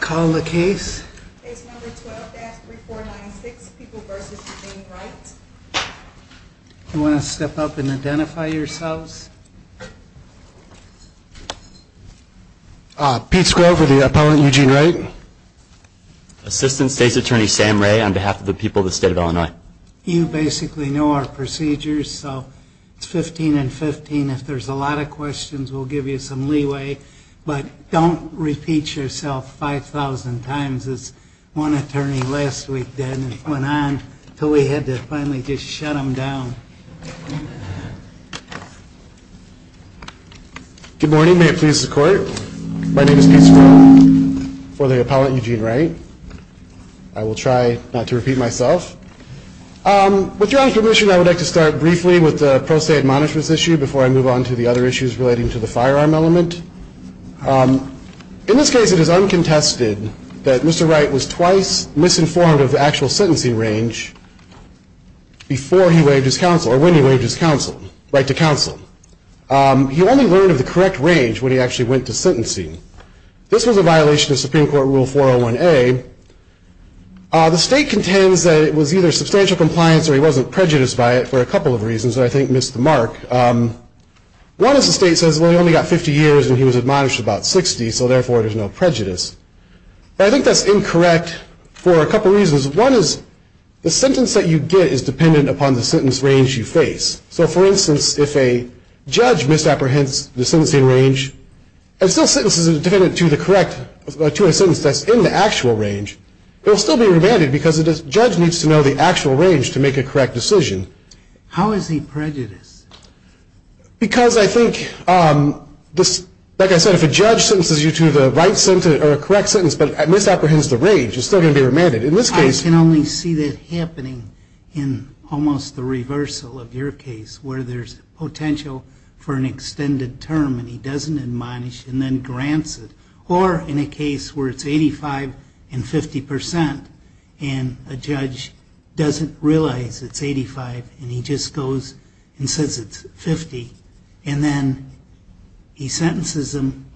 call the case. You want to step up and identify yourselves. Pete Scrove with the opponent Eugene Wright. Assistant State's Attorney Sam Ray on behalf of the people of the state of Illinois. You basically know our procedures so it's 15 and 15 if there's a lot of questions we'll give you some leeway but don't repeat yourself 5,000 times as one attorney last week did and went on until we had to finally just shut him down. Good morning may it please the court. My name is Pete Scrove for the appellant Eugene Wright. I will try not to repeat myself. With your permission I would like to start briefly with the pro se admonishments issue before I move on to the other issues relating to the firearm element. In this case it is uncontested that Mr. Wright was twice misinformed of the actual sentencing range before he waived his counsel or when he waived his counsel, right to counsel. He only learned of the correct range when he actually went to sentencing. This was a violation of Supreme Court Rule 401A. The state contends that it was either substantial compliance or he wasn't prejudiced by it for a couple of reasons that I think missed the mark. One is the state says well he only got 50 years and he was admonished about 60 so therefore there's no prejudice. But I think that's incorrect for a couple reasons. One is the sentence that you get is dependent upon the sentence range you face. So for instance if a judge misapprehends the sentencing range and still sentences it dependent to the correct to a sentence that's in the actual range, it will still be remanded because the judge needs to know the actual range to make a correct decision. How is he prejudiced? Because I think this, like I said, if a judge sentences you to the right sentence or a correct sentence but misapprehends the range, it's still going to be remanded. In this case... I can only see that happening in almost the reversal of your case where there's potential for an extended term and he doesn't admonish and then grants it. Or in a case where it's 85 and 50 percent and a judge doesn't realize it's 85 and he just goes and says it's 50 and then he sentences him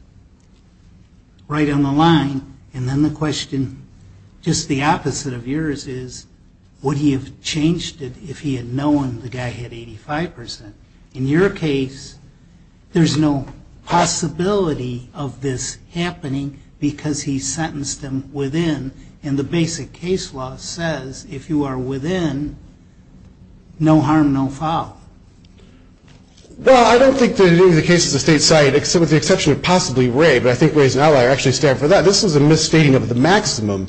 right on the line and then the question, just the opposite of yours, is would he have changed it if he had known the guy had 85 percent? In your case, there's no possibility of this happening because he sentenced him within and the basic case law says if you are within, no harm, no foul. Well, I don't think that in any of the cases the state cited, with the exception of possibly Ray, but I think Ray's an outlier, actually stand for that. This is a misstating of the maximum.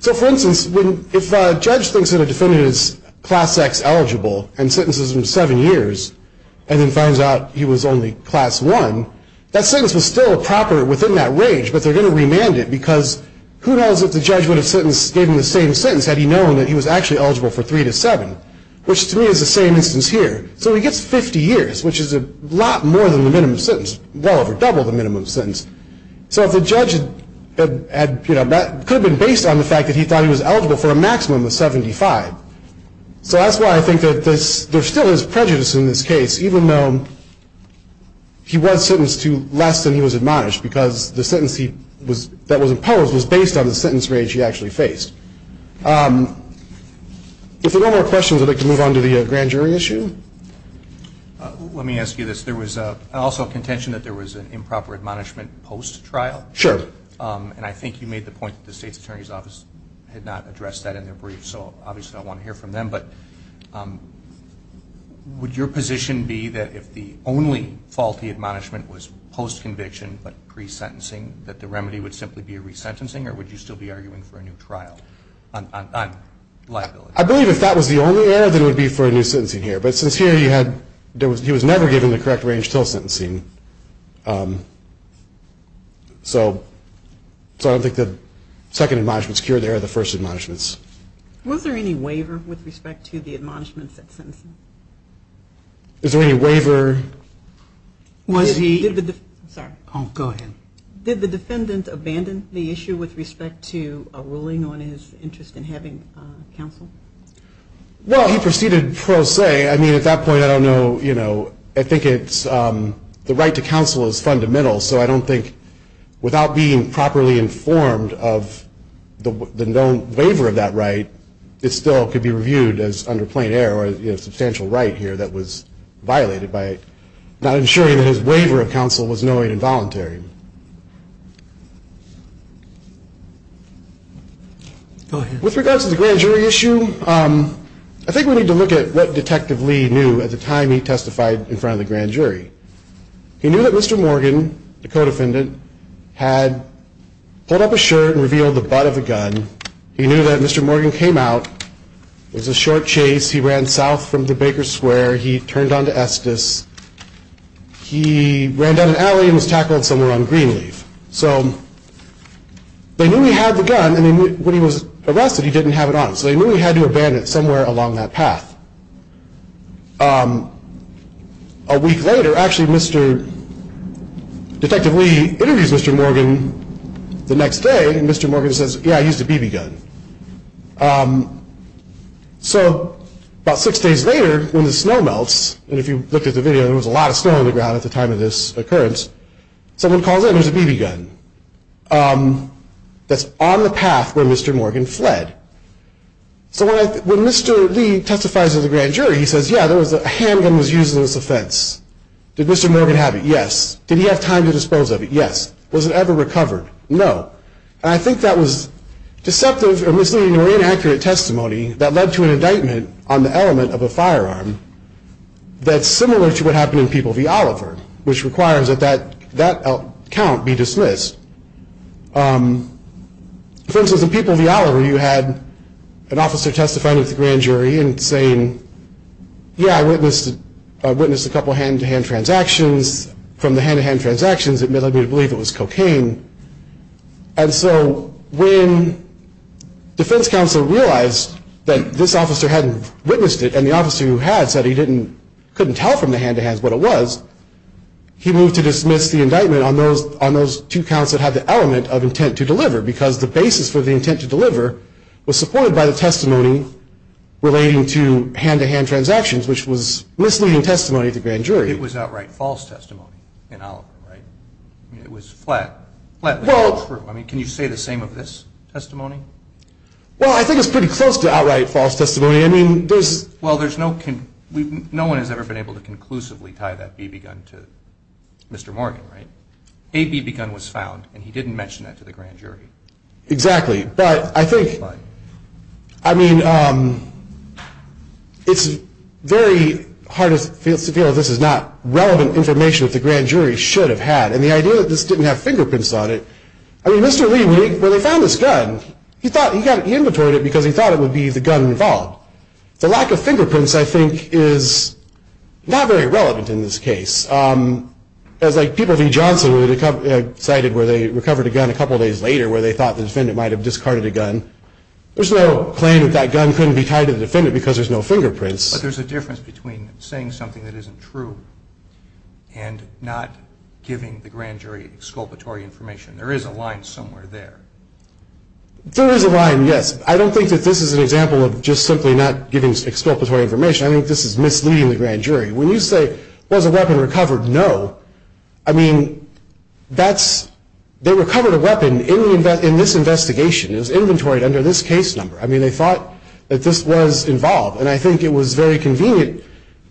So for instance, if a judge thinks that a defendant is class X eligible and sentences him to seven years and then finds out he was only class one, that doesn't change, but they're going to remand it because who knows if the judge would have given him the same sentence had he known that he was actually eligible for three to seven, which to me is the same instance here. So he gets 50 years, which is a lot more than the minimum sentence, well over double the minimum sentence. So if the judge had, you know, could have been based on the fact that he thought he was eligible for a maximum of 75. So that's why I think that there still is prejudice in this case, even though he was sentenced to less than he was admonished, because the sentence that was imposed was based on the sentence range he actually faced. If there are no more questions, I'd like to move on to the grand jury issue. Let me ask you this. There was also contention that there was an improper admonishment post-trial. Sure. And I think you made the point that the state's attorney's office had not addressed that in their brief, so obviously I want to hear from them, but would your position be that if the only faulty admonishment was post- conviction but pre-sentencing, that the remedy would simply be a resentencing or would you still be arguing for a new trial on liability? I believe if that was the only error, then it would be for a new sentencing here. But since here he had, there was, he was never given the correct range till sentencing. So I don't think the second admonishments cure the error of the first admonishments. Was there any waiver with respect to the admonishments at sentencing? Is there any waiver? Was he, sorry. Oh, go ahead. Did the defendant abandon the issue with respect to a ruling on his interest in having counsel? Well, he proceeded pro se. I mean at that point I don't know, you know, I think it's, the right to counsel is fundamental, so I don't think without being properly informed of the known waiver of that right, it still could be reviewed as under plain error or a substantial right here that was violated by not ensuring that his waiver of counsel was knowing and voluntary. Go ahead. With regards to the grand jury issue, I think we need to look at what Detective Lee knew at the time he testified in front of the grand jury. He knew that Mr. Morgan, the co-defendant, had pulled up his shirt and revealed the butt of the gun. He knew that Mr. Morgan came out. It was a short chase. He ran south from the Baker Square. He turned on to Estes. He ran down an alley and was tackled somewhere on Greenleaf. So they knew he had the gun and when he was arrested he didn't have it on him, so they knew he had to abandon it somewhere along that path. A week later, actually, Detective Lee interviews Mr. Morgan the next day and Mr. Morgan says, yeah, I used a BB gun. So about six days later, when the snow melts, and if you looked at the video there was a lot of snow on the ground at the time of this occurrence, someone calls in, there's a BB gun that's on the path where Mr. Morgan fled. So when Mr. Lee testifies to the grand jury, he says, yeah, a handgun was used in this Yes. Was it ever recovered? No. I think that was deceptive or misleading or inaccurate testimony that led to an indictment on the element of a firearm that's similar to what happened in People v. Oliver, which requires that that account be dismissed. For instance, in People v. Oliver, you had an officer testify to the grand jury and saying, yeah, I witnessed a couple hand-to-hand transactions. From the hand-to-hand transactions, it may have led me to believe it was cocaine. And so when defense counsel realized that this officer hadn't witnessed it, and the officer who had said he couldn't tell from the hand-to-hand what it was, he moved to dismiss the indictment on those two counts that had the element of intent to deliver, because the basis for the intent to deliver was supported by the testimony relating to hand-to-hand transactions, which was misleading testimony to the grand jury. It was outright false testimony in Oliver, right? I mean, it was flat, flatly false. I mean, can you say the same of this testimony? Well, I think it's pretty close to outright false testimony. I mean, there's, well, there's no, no one has ever been able to conclusively tie that BB gun to Mr. Morgan, right? A BB gun was found, and he didn't mention that to the grand jury. Exactly. But I think, I mean, it's very hard to feel this is not relevant information that the grand jury should have had. And the idea that this didn't have fingerprints on it, I mean, Mr. Lee, when they found this gun, he thought, he got it, he inventoried it because he thought it would be the gun involved. The lack of fingerprints, I think, is not very relevant in this case. As, like, people V. Johnson cited where they recovered a gun a couple days later, where they thought the defendant might have discarded a gun. There's no claim that that gun couldn't be tied to the defendant because there's no proof. And not giving the grand jury exculpatory information. There is a line somewhere there. There is a line, yes. I don't think that this is an example of just simply not giving exculpatory information. I think this is misleading the grand jury. When you say, was a weapon recovered? No. I mean, that's, they recovered a weapon in this investigation. It was inventoried under this case number. I mean, they thought that this was involved. And I think it was very convenient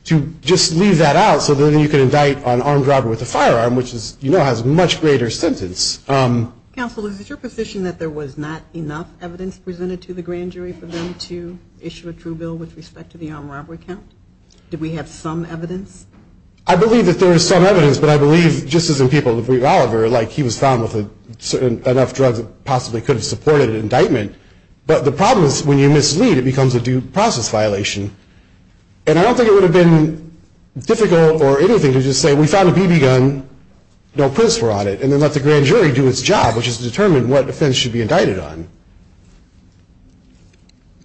to just leave that out so then you can indict on armed robbery with a firearm, which is, you know, has a much greater sentence. Counsel, is it your position that there was not enough evidence presented to the grand jury for them to issue a true bill with respect to the armed robbery count? Did we have some evidence? I believe that there is some evidence, but I believe, just as in people like Oliver, like, he was found with a certain, enough drugs that possibly could have supported an indictment. But the problem is when you mislead, it becomes a due process violation. And I don't think it would have been difficult or anything to just say, we found a BB gun, no prints were on it, and then let the grand jury do its job, which is to determine what offense should be indicted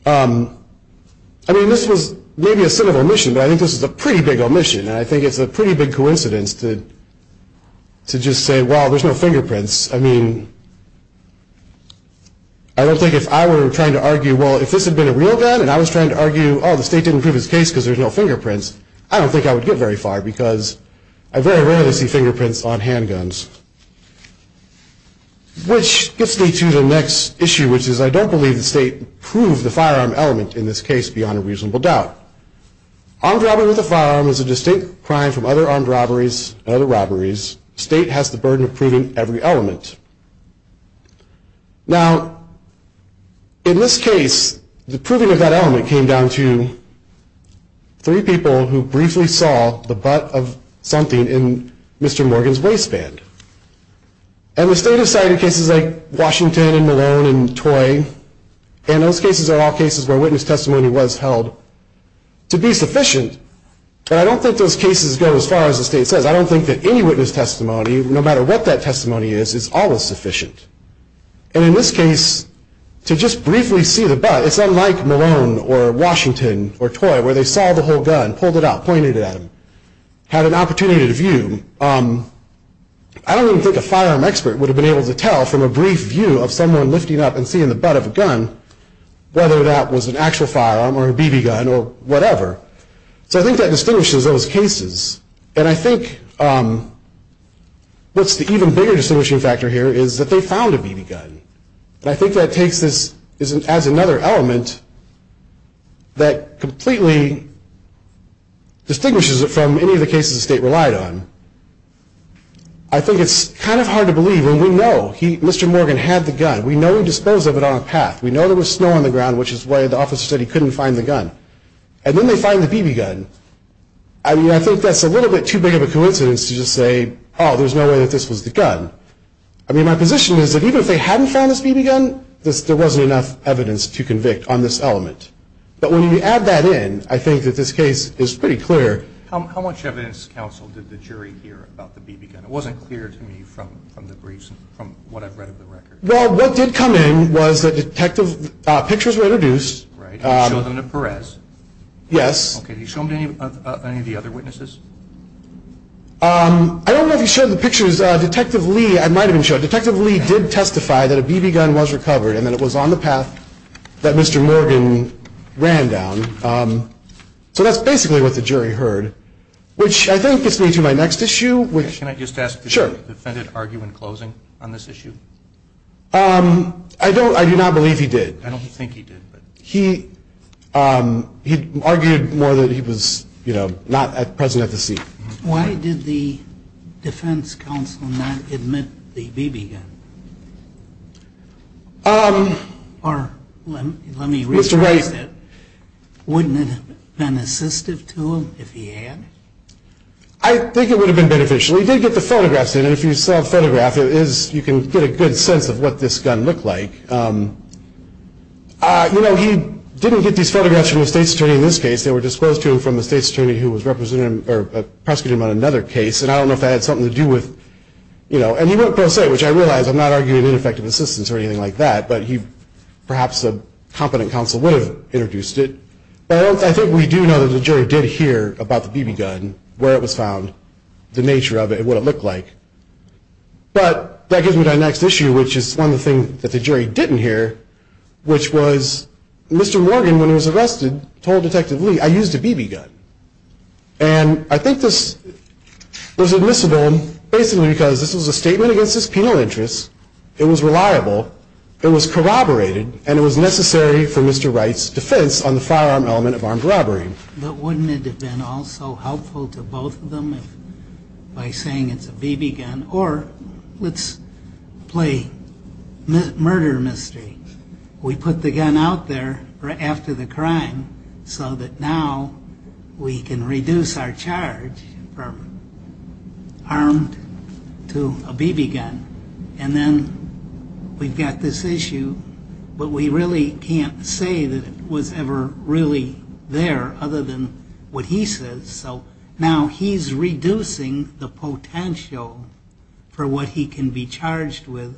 on. I mean, this was maybe a sin of omission, but I think this is a pretty big omission. And I think it's a pretty big coincidence to just say, well, there's no fingerprints. I mean, I remember we were trying to argue, well, if this had been a real gun and I was trying to argue, oh, the state didn't prove his case because there's no fingerprints, I don't think I would get very far because I very rarely see fingerprints on handguns. Which gets me to the next issue, which is I don't believe the state proved the firearm element in this case beyond a reasonable doubt. Armed robbery with a firearm is a distinct crime from other armed robberies and other robberies. The state has the burden of proving every element. Now, in this case, the proving of that element came down to three people who briefly saw the butt of something in Mr. Morgan's waistband. And the state has cited cases like Washington and Malone and Toy, and those cases are all cases where witness testimony was held to be sufficient. But I don't think those cases go as far as the state says. I don't think that any witness testimony, no matter what that testimony is, is always sufficient. And in this case, to just briefly see the butt, it's unlike Malone or Washington or Toy, where they saw the whole gun, pulled it out, pointed it at him, had an opportunity to view. I don't even think a firearm expert would have been able to tell from a brief view of someone lifting up and seeing the butt of a gun whether that was an actual firearm or a BB gun or whatever. So I think that what's the even bigger distinguishing factor here is that they found a BB gun. I think that takes this as another element that completely distinguishes it from any of the cases the state relied on. I think it's kind of hard to believe when we know Mr. Morgan had the gun. We know he disposed of it on a path. We know there was snow on the ground, which is why the officer said he couldn't find the gun. And then they find the BB gun. I mean, I think that's a little bit too big of a coincidence to just say, oh, there's no way that this was the gun. I mean, my position is that even if they hadn't found this BB gun, there wasn't enough evidence to convict on this element. But when you add that in, I think that this case is pretty clear. How much evidence, counsel, did the jury hear about the BB gun? It wasn't clear to me from the briefs, from what I've read of the record. Well, what did come in was that detective pictures were introduced. Right. You showed them to Perez. Yes. Okay. Did you show them to any of the other witnesses? I don't know if you showed the pictures. Detective Lee, I might have been shown. Detective Lee did testify that a BB gun was recovered and that it was on the path that Mr. Morgan ran down. So that's basically what the jury heard, which I think gets me to my next issue. Can I just ask, did the defendant argue in closing on this issue? I do not believe he did. I don't think he did. He argued more that he was, you know, not present at the scene. Why did the defense counsel not admit the BB gun? Or let me rephrase that. Wouldn't it have been assistive to him if he had? I think it would have been beneficial. He did get the photographs in. And if you saw a photograph, you can get a good sense of what this gun looked like. You know, he didn't get these photographs from the state's attorney in this case. They were disclosed to him from the state's attorney who was representing him, or prosecuting him on another case. And I don't know if that had something to do with, you know. And he went pro se, which I realize, I'm not arguing ineffective assistance or anything like that. But he, perhaps a competent counsel would have introduced it. But I think we do know that the jury did hear about the BB gun, where it was found, the nature of it, what it looked like. But that gives me to my next issue, which is one of the things that the jury didn't hear, which was Mr. Morgan, when he was arrested, told Detective Lee, I used a BB gun. And I think this was admissible, basically because this was a statement against his penal interests. It was reliable. It was corroborated. And it was necessary for Mr. Wright's defense on the firearm element of armed robbery. But wouldn't it have been also helpful to both of them by saying it's a BB gun? Or let's play murder mystery. We put the gun out there after the crime so that now we can reduce our charge from armed to a BB gun. And then we've got this issue, but we really can't say that it was ever really there, other than what he says. So now he's reducing the potential for what he can be charged with.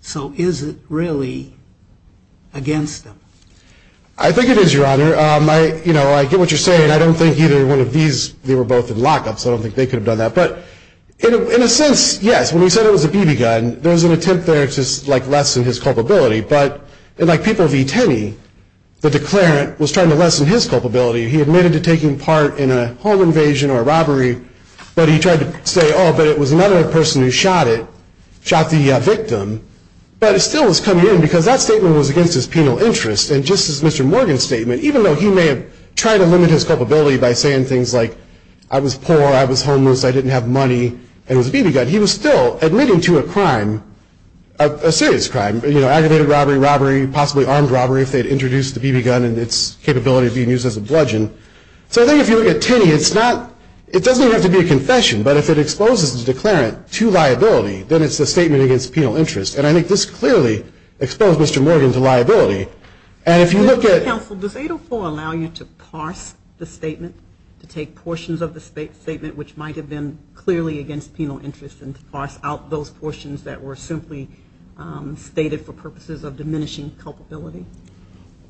So is it really against him? I think it is, Your Honor. I get what you're saying. I don't think either one of these, they were both in lockups. I don't think they could have done that. But in a sense, yes. When he said it was a BB gun, there was an attempt there to lessen his culpability. But in like People v. Tenney, the declarant was taking part in a home invasion or a robbery. But he tried to say, oh, but it was another person who shot it, shot the victim. But it still was coming in because that statement was against his penal interest. And just as Mr. Morgan's statement, even though he may have tried to limit his culpability by saying things like, I was poor, I was homeless, I didn't have money, and it was a BB gun, he was still admitting to a crime, a serious crime, aggravated robbery, robbery, possibly armed robbery, if they'd introduced the bludgeon. So I think if you look at Tenney, it's not, it doesn't even have to be a confession. But if it exposes the declarant to liability, then it's a statement against penal interest. And I think this clearly exposed Mr. Morgan to liability. And if you look at- Counsel, does 804 allow you to parse the statement, to take portions of the statement which might have been clearly against penal interest and parse out those portions that were simply stated for purposes of diminishing culpability?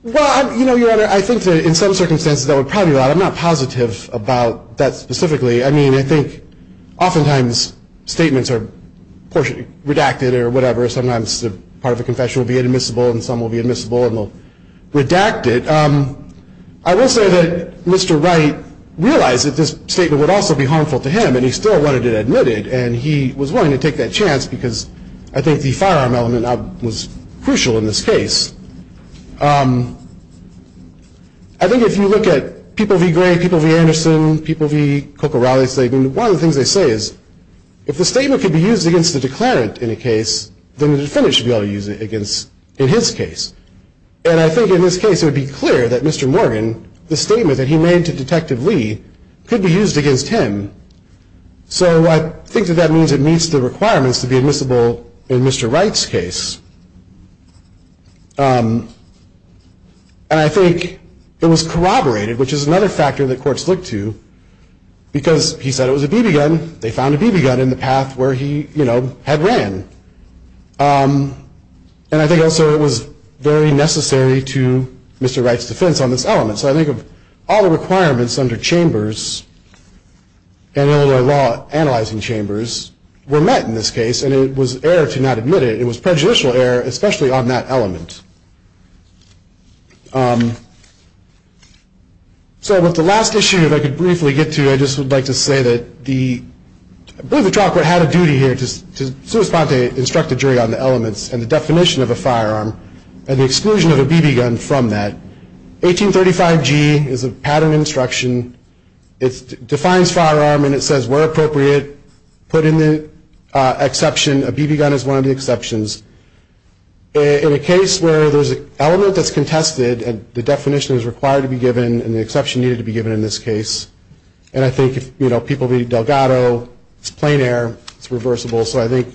Well, you know, Your Honor, I think that in some circumstances that would probably allow it. I'm not positive about that specifically. I mean, I think oftentimes statements are portion, redacted or whatever. Sometimes the part of a confession will be inadmissible and some will be admissible and they'll redact it. I will say that Mr. Wright realized that this statement would also be harmful to him, and he still wanted it admitted. And he was willing to take that chance because I think the firearm element was crucial in this case. I think if you look at people v. Gray, people v. Anderson, people v. Coccaralli, one of the things they say is, if the statement could be used against the declarant in a case, then the defendant should be able to use it against, in his case. And I think in this case it would be clear that Mr. Morgan, the statement that he made to Detective Lee, could be used against him. So I think that that means it meets the requirements to be admissible in Mr. Wright's case. And I think it was corroborated, which is another factor that courts look to, because he said it was a BB gun. They found a BB gun in the path where he, you know, had ran. And I think also it was very necessary to Mr. Wright's defense on this element. So I think of all the chambers, and Illinois Law analyzing chambers, were met in this case. And it was error to not admit it. It was prejudicial error, especially on that element. So with the last issue, if I could briefly get to, I just would like to say that the, I believe the trial court had a duty here to sui sponte, instruct the jury on the elements, and the definition of a firearm, and the exclusion of a BB gun from that. 1835G is a pattern instruction. It defines firearm, and it says, where appropriate, put in the exception, a BB gun is one of the exceptions. In a case where there's an element that's contested, the definition is required to be given, and the exception needed to be given in this case. And I think if, you know, people read Delgado, it's plain error, it's reversible. So I think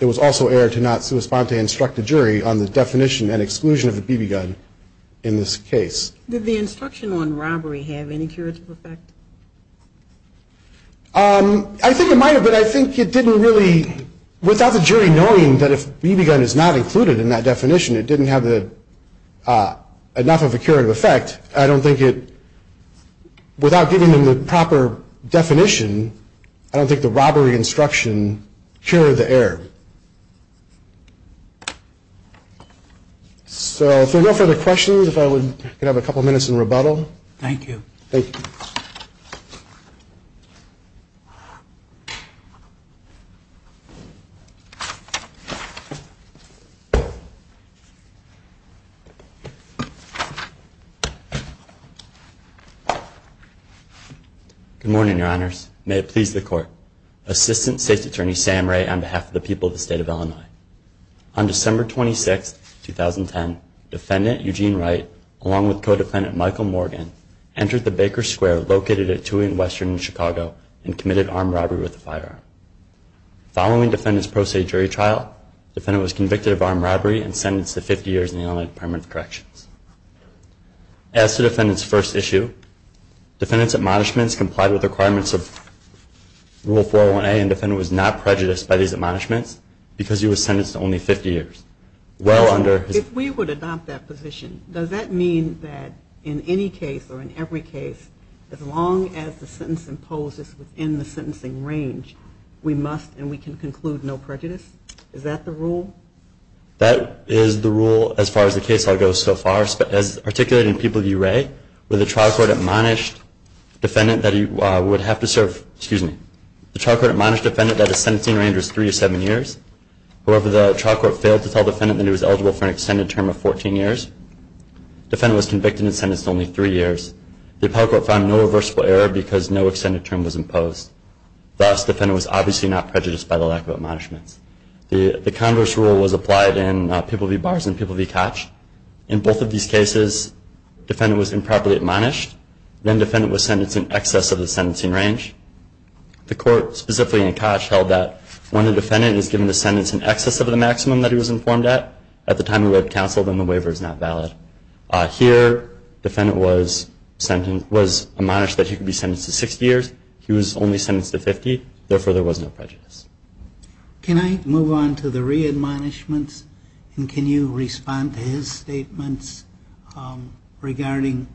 it was also error to not sui sponte, instruct the jury on the definition and the exclusion of a BB gun in this case. Did the instruction on robbery have any curative effect? I think it might have, but I think it didn't really, without the jury knowing that if BB gun is not included in that definition, it didn't have the, enough of a curative effect, I don't think it, without giving them the proper definition, I don't think the robbery instruction cured the So if there are no further questions, if I would have a couple of minutes in rebuttal. Thank you. Thank you. Good morning, your honors. May it please the court. Assistant State's Attorney Sam Ray on behalf of the people of the state of Illinois. On December 26, 2010, Defendant Eugene Wright, along with co-defendant Michael Morgan, entered the Baker Square located at Tui and Western in Chicago and committed armed robbery with a firearm. Following defendant's pro se jury trial, defendant was convicted of armed robbery and sentenced to 50 years in the Illinois Department of Corrections. As to defendant's first issue, defendant's admonishments complied with requirements of Rule 401A and defendant was not prejudiced by these admonishments because he was sentenced to only 50 years. Well under his. If we would adopt that position, does that mean that in any case or in every case, as long as the sentence imposes within the sentencing range, we must and we can conclude no prejudice? Is that the rule? That is the rule as far as the case law goes so far. As articulated in people of the URA, with a trial court admonished defendant that he would have to serve, excuse me, the trial court admonished defendant that is in the sentencing range was three or seven years. However, the trial court failed to tell defendant that he was eligible for an extended term of 14 years. Defendant was convicted and sentenced to only three years. The appellate court found no reversible error because no extended term was imposed. Thus, defendant was obviously not prejudiced by the lack of admonishments. The converse rule was applied in People v. Bars and People v. Koch. In both of these cases, defendant was improperly admonished, then defendant was sentenced in excess of the sentencing range. The court, specifically in Koch, held that when a defendant is given a sentence in excess of the maximum that he was informed at, at the time he went to counsel, then the waiver is not valid. Here, defendant was sentenced, was admonished that he could be sentenced to 60 years. He was only sentenced to 50. Therefore, there was no prejudice. Can I move on to the re-admonishments? And can you respond to his statements regarding,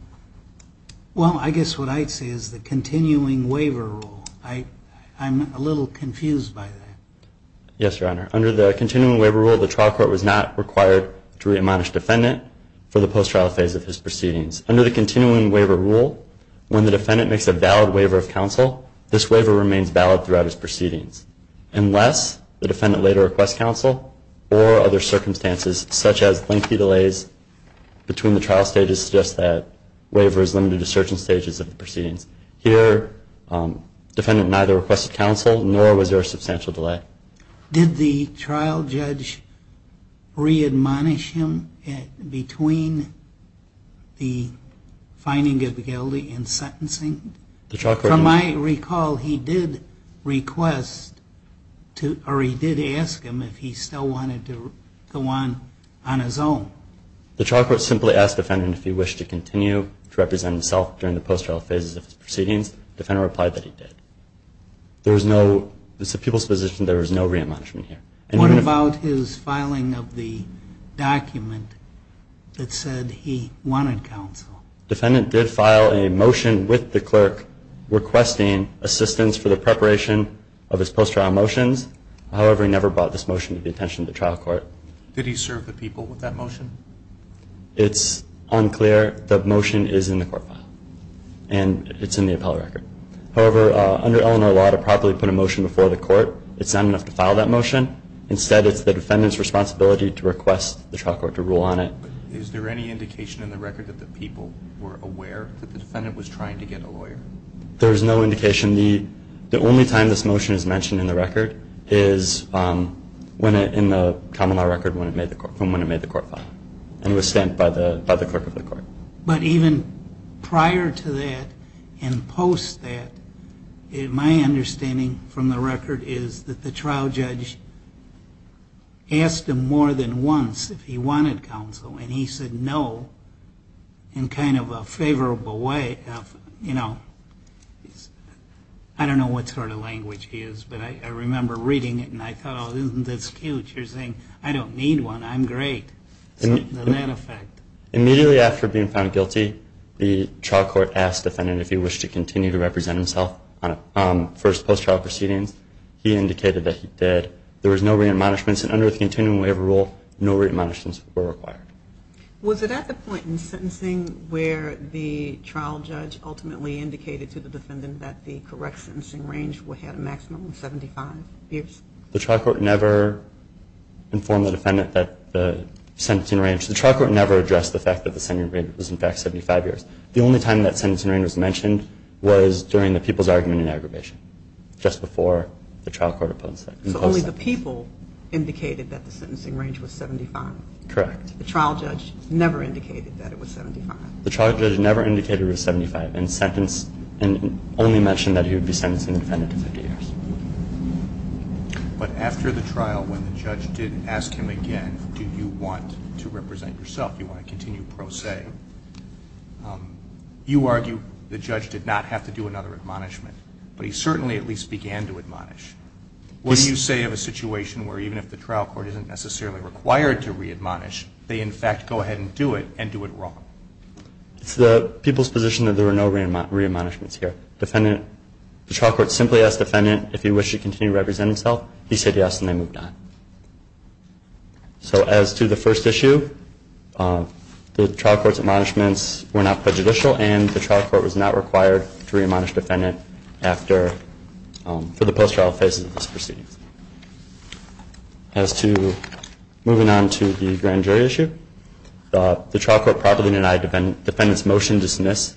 well, I guess what I'd say is the continuing waiver rule. I'm a little confused by that. Yes, Your Honor. Under the continuing waiver rule, the trial court was not required to re-admonish defendant for the post-trial phase of his proceedings. Under the continuing waiver rule, when the defendant makes a valid waiver of counsel, this waiver remains valid throughout his proceedings, unless the defendant later requests counsel or other circumstances, such as lengthy delays between the trial stages, suggest that waiver is limited to defendant neither requested counsel nor was there a substantial delay. Did the trial judge re-admonish him between the finding of the guilty and sentencing? From my recall, he did request to, or he did ask him if he still wanted to go on on his own. The trial court simply asked the defendant if he wished to continue to represent himself during the trial, and the trial court replied that he did. There was no, it's a people's position, there was no re-admonishment here. What about his filing of the document that said he wanted counsel? The defendant did file a motion with the clerk requesting assistance for the preparation of his post-trial motions. However, he never brought this motion to the attention of the trial court. Did he serve the people with that motion? It's unclear. The motion is in the court file, and it's in the appellate record. However, under Illinois law, to properly put a motion before the court, it's not enough to file that motion. Instead, it's the defendant's responsibility to request the trial court to rule on it. Is there any indication in the record that the people were aware that the defendant was trying to get a lawyer? There is no indication. The only time this motion is mentioned in the record is in the common law record from when it made the court file, and it was sent by the clerk of the court. But even prior to that and post that, my understanding from the record is that the trial judge asked him more than once if he wanted counsel, and he said no in kind of a favorable way of, you know, I don't know what sort of language he is, but I remember reading it, and I thought, oh, isn't this huge? You're saying, I don't need one. I'm great. So, in that effect. Immediately after being found guilty, the trial court asked the defendant if he wished to continue to represent himself on first post-trial proceedings. He indicated that he did. There was no re-admonishments, and under the continuing waiver rule, no re-admonishments were required. Was it at the point in sentencing where the trial judge ultimately indicated to the defendant that the correct sentencing range had a The trial court never informed the defendant that the sentencing range The trial court never addressed the fact that the sentencing range was, in fact, 75 years. The only time that sentencing range was mentioned was during the people's argument and aggravation, just before the trial court opposed it. So only the people indicated that the sentencing range was 75? Correct. The trial judge never indicated that it was 75? The trial judge never indicated it was 75, and only mentioned that he would be sentencing the defendant to 50 years. But after the trial, when the judge did ask him again, do you want to represent yourself, do you want to continue pro se, you argue the judge did not have to do another admonishment, but he certainly at least began to admonish. What do you say of a situation where even if the trial court isn't necessarily required to re-admonish, they in fact go ahead and do it, and do it wrong? It's the people's position that there were no re-admonishments here. The trial court simply asked the defendant, if you wish to continue to represent himself, he said yes, and they moved on. So as to the first issue, the trial court's admonishments were not prejudicial, and the trial court was not required to re-admonish the defendant for the post-trial phases of this proceedings. As to moving on to the grand jury issue, the trial court properly denied the defendant's motion to dismiss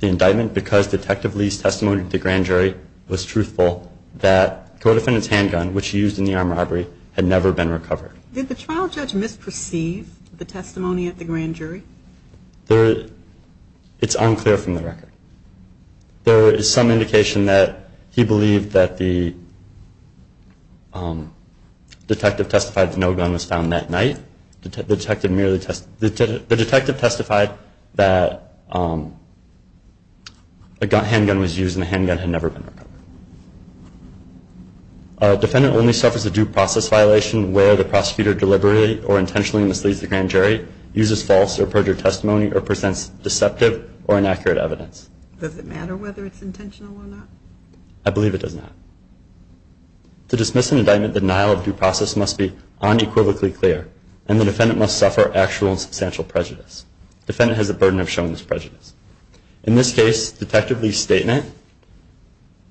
the indictment because Detective Lee's testimony at the grand jury was truthful that the co-defendant's handgun, which he used in the armed robbery, had never been recovered. Did the trial judge misperceive the testimony at the grand jury? It's unclear from the record. There is some indication that he believed that the detective testified that no gun was found that night. The detective testified that a handgun was used and the handgun had never been recovered. A defendant only suffers a due process violation where the prosecutor deliberately or intentionally misleads the grand jury, uses false or perjured testimony, or presents deceptive or inaccurate evidence. Does it matter whether it's intentional or not? I believe it does not. To dismiss an indictment, the denial of due process must be unequivocally clear and the defendant must suffer actual and substantial prejudice. Defendant has the burden of showing this prejudice. In this case, Detective Lee's statement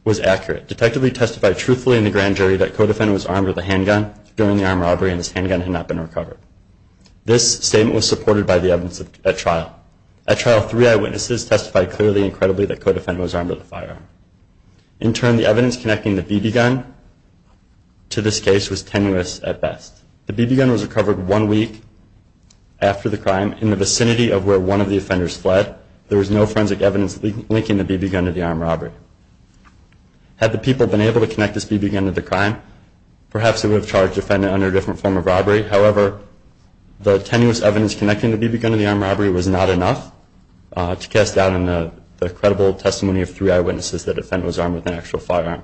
was accurate. Detective Lee testified truthfully in the grand jury that co-defendant was armed with a handgun during the armed robbery and his handgun had not been recovered. This statement was supported by the evidence at trial. At trial, three eyewitnesses testified clearly and credibly that co-defendant was armed with a firearm. In turn, the evidence connecting the BB gun to this case was tenuous at best. The BB gun was recovered one week after the crime in the vicinity of where one of the offenders fled. There was no forensic evidence linking the BB gun to the armed robbery. Had the people been able to connect this BB gun to the crime, perhaps they would have charged the defendant under a different form of robbery. However, the tenuous evidence connecting the BB gun to the armed robbery was not enough to cast doubt in the credible testimony of three eyewitnesses that defendant was armed with an actual firearm.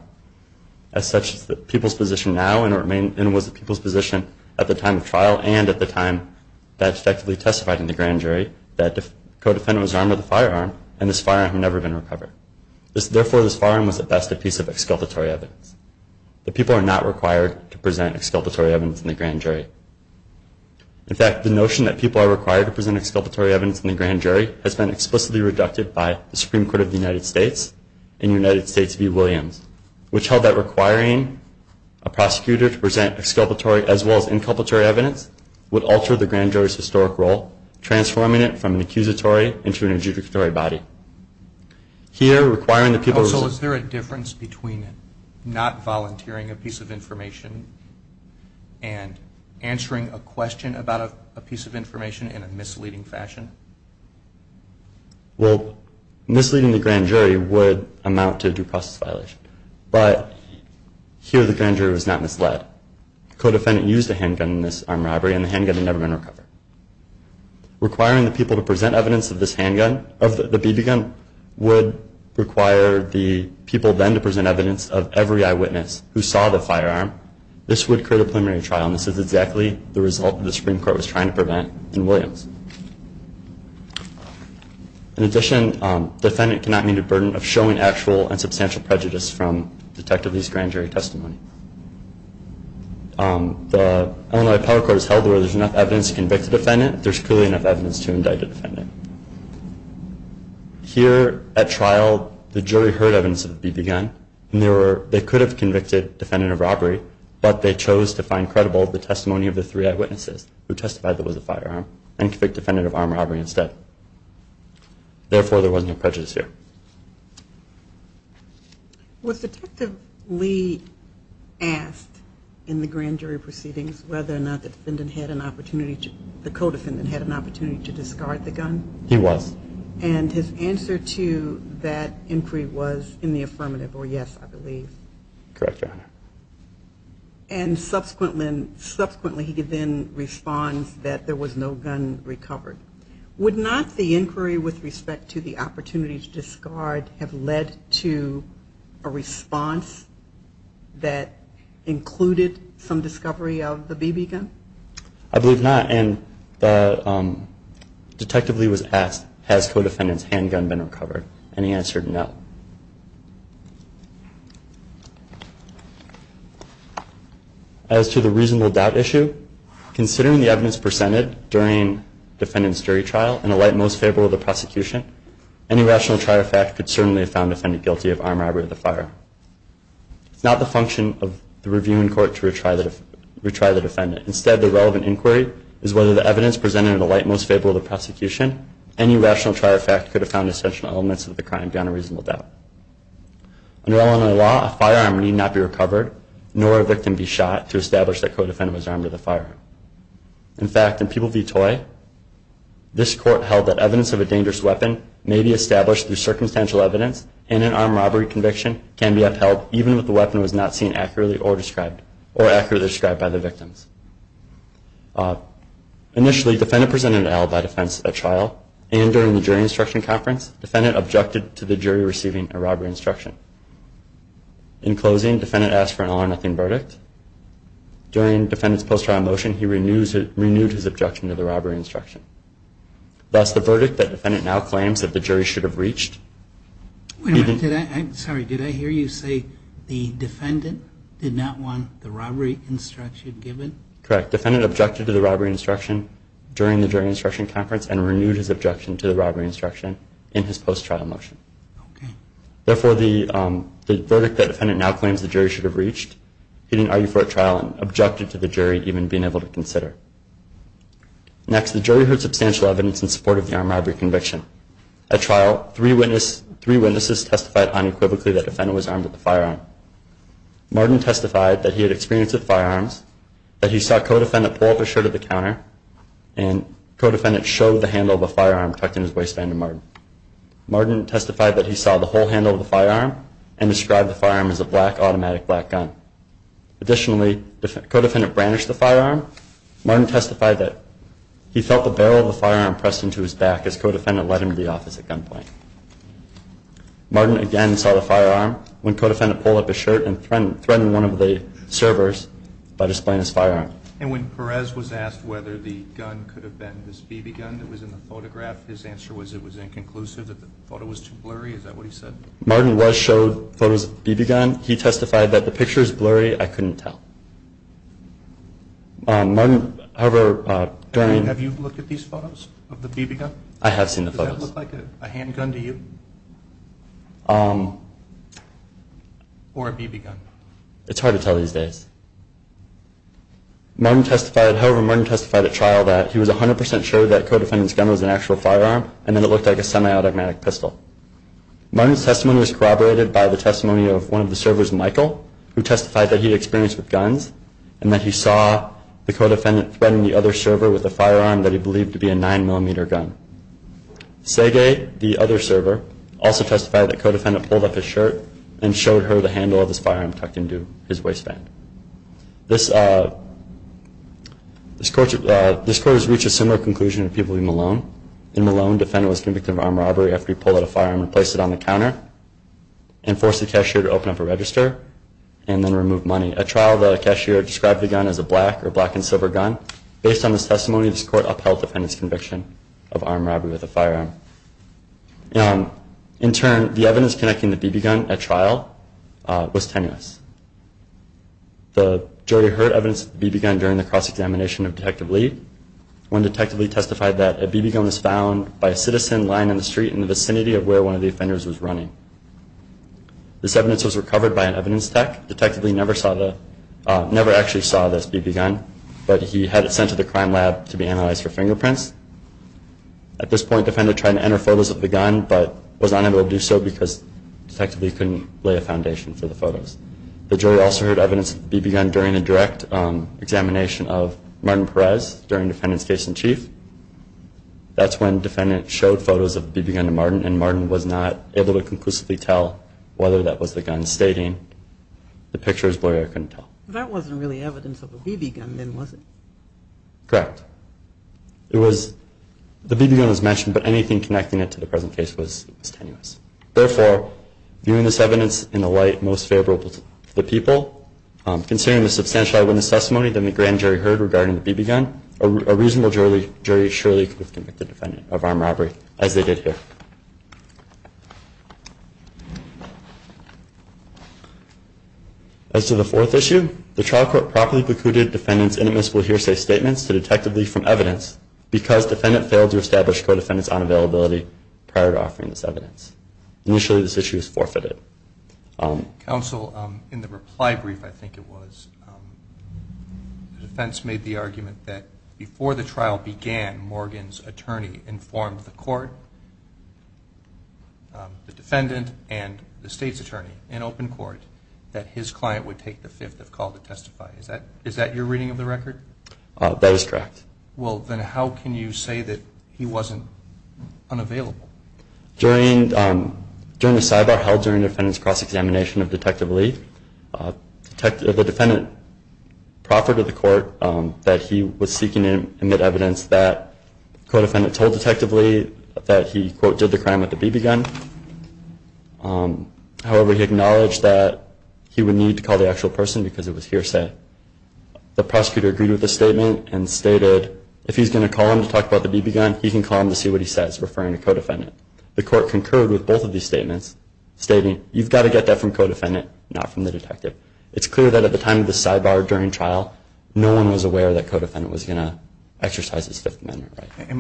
As such, the people's position now and was the people's position at the time of trial and at the time that Detective Lee testified in the grand jury, that co-defendant was armed with a firearm and this firearm had never been recovered. Therefore, this firearm was at best a piece of exculpatory evidence. The people are not required to present exculpatory evidence in the grand jury. In fact, the notion that people are required to present exculpatory evidence in the grand jury has been explicitly reducted by the Supreme Court of the United States and United States v. Williams, which held that requiring a prosecutor to present exculpatory as well as inculpatory evidence would alter the grand jury's historic role, transforming it from an accusatory into an adjudicatory body. Here, requiring the people- Also, is there a difference between not volunteering a piece of information and answering a question about a piece of information in a misleading fashion? Well, misleading the grand jury would amount to a due process violation. But here, the grand jury was not misled. Co-defendant used a handgun in this armed robbery and the handgun had never been recovered. Requiring the people to present evidence of this handgun, of the BB gun, would require the people then to present evidence of every eyewitness who saw the firearm. This would create a preliminary trial and In addition, defendant cannot meet a burden of showing actual and substantial prejudice from detective Lee's grand jury testimony. The Illinois Power Court has held where there's enough evidence to convict a defendant, there's clearly enough evidence to indict a defendant. Here, at trial, the jury heard evidence of the BB gun. And they could have convicted defendant of robbery, but they chose to find credible the testimony of the three eyewitnesses who testified that it was a firearm and convicted defendant of armed robbery instead. Therefore, there was no prejudice here. Was Detective Lee asked in the grand jury proceedings whether or not the defendant had an opportunity, the co-defendant had an opportunity to discard the gun? He was. And his answer to that inquiry was in the affirmative, or yes, I believe. Correct, Your Honor. And subsequently, he then responds that there was no gun recovered. Would not the inquiry with respect to the opportunity to discard have led to a response that included some discovery of the BB gun? I believe not. And Detective Lee was asked, has co-defendant's handgun been recovered? And he answered no. As to the reasonable doubt issue, considering the evidence presented during defendant's jury trial in the light most favorable of the prosecution, any rational trial fact could certainly have found the defendant guilty of armed robbery or the fire. It's not the function of the reviewing court to retry the defendant. Instead, the relevant inquiry is whether the evidence presented in the light most favorable of the prosecution, any rational trial fact could have found essential elements of the crime beyond a reasonable doubt. Under Illinois law, a firearm need not be recovered, nor a victim be shot, to establish that co-defendant was armed with a firearm. In fact, in People v. Toy, this court held that evidence of a dangerous weapon may be established through circumstantial evidence, and an armed robbery conviction can be upheld, even if the weapon was not seen accurately or accurately described by the victims. Initially, defendant presented an alibi defense at trial. And during the jury instruction conference, defendant objected to the jury receiving a robbery instruction. In closing, defendant asked for an all or nothing verdict. During defendant's post-trial motion, he renewed his objection to the robbery instruction. Thus, the verdict that defendant now claims that the jury should have reached. Wait a minute, did I, I'm sorry, did I hear you say the defendant did not want the robbery instruction given? Correct, defendant objected to the robbery instruction during the jury instruction conference and renewed his objection to the robbery instruction in his post-trial motion. Therefore, the the verdict that defendant now claims the jury should have reached. He didn't argue for a trial and objected to the jury even being able to consider. Next, the jury heard substantial evidence in support of the armed robbery conviction. At trial, three witness, three witnesses testified unequivocally that the defendant was armed with a firearm. Martin testified that he had experience with firearms. That he saw co-defendant pull up his shirt at the counter. And co-defendant showed the handle of a firearm tucked in his waistband to Martin. Martin testified that he saw the whole handle of the firearm and described the firearm as a black automatic black gun. Additionally, co-defendant brandished the firearm. Martin testified that he felt the barrel of the firearm pressed into his back as co-defendant led him to the office at gunpoint. Martin again saw the firearm when co-defendant pulled up his shirt and threatened one of the servers by displaying his firearm. And when Perez was asked whether the gun could have been this BB gun that was in the photograph, his answer was it was inconclusive, that the photo was too blurry, is that what he said? Martin was showed photos of the BB gun. He testified that the picture is blurry, I couldn't tell. Martin, however, during- Have you looked at these photos of the BB gun? I have seen the photos. Does that look like a handgun to you? Or a BB gun? It's hard to tell these days. Martin testified, however, Martin testified at trial that he was 100% sure that co-defendant's gun was an actual firearm and that it looked like a semi-automatic pistol. Martin's testimony was corroborated by the testimony of one of the servers, Michael, who testified that he had experience with guns and that he saw the co-defendant threatening the other server with a firearm that he believed to be a 9mm gun. Sege, the other server, also testified that co-defendant pulled up his shirt and showed her the handle of his firearm tucked into his waistband. This court has reached a similar conclusion to Peabody-Malone. In Malone, defendant was convicted of armed robbery after he pulled out a firearm and placed it on the counter and forced the cashier to open up a register and then remove money. At trial, the cashier described the gun as a black or black and silver gun. Based on this testimony, this court upheld defendant's conviction of armed robbery with a firearm. In turn, the evidence connecting the BB gun at trial was tenuous. The jury heard evidence of the BB gun during the cross-examination of Detective Lee. When Detective Lee testified that a BB gun was found by a citizen lying on the street in the vicinity of where one of the offenders was running. This evidence was recovered by an evidence tech. Detective Lee never actually saw this BB gun, but he had it sent to the crime lab to be analyzed for fingerprints. At this point, defendant tried to enter photos of the gun, but was unable to do so because Detective Lee couldn't lay a foundation for the photos. The jury also heard evidence of the BB gun during a direct examination of Martin Perez during defendant's case in chief. That's when defendant showed photos of the BB gun to Martin, and Martin was not able to conclusively tell whether that was the gun, stating the picture was blurry or couldn't tell. That wasn't really evidence of a BB gun then, was it? Correct. It was, the BB gun was mentioned, but anything connecting it to the present case was tenuous. Therefore, viewing this evidence in the light most favorable to the people, considering the substantial evidence testimony that the grand jury heard regarding the BB gun, a reasonable jury surely could convict the defendant of armed robbery, as they did here. As to the fourth issue, the trial court properly precluded defendant's inadmissible hearsay statements to Detective Lee from evidence, because defendant failed to establish co-defendant's unavailability prior to offering this evidence. Initially, this issue was forfeited. Counsel, in the reply brief, I think it was, the defense made the argument that before the trial began, Morgan's attorney informed the court, the defendant and the state's attorney in open court, that his client would take the fifth of call to testify. Is that, is that your reading of the record? That is correct. Well, then how can you say that he wasn't unavailable? During, during the sidebar held during the defendant's cross-examination of Detective Lee, the defendant proffered to the court that he was seeking to admit evidence that co-defendant told Detective Lee that he, quote, did the crime with the BB gun. However, he acknowledged that he would need to call the actual person because it was hearsay. The prosecutor agreed with the statement and stated, if he's gonna call him to testify, he's referring to co-defendant. The court concurred with both of these statements, stating, you've gotta get that from co-defendant, not from the detective. It's clear that at the time of the sidebar during trial, no one was aware that co-defendant was gonna exercise his fifth amendment right.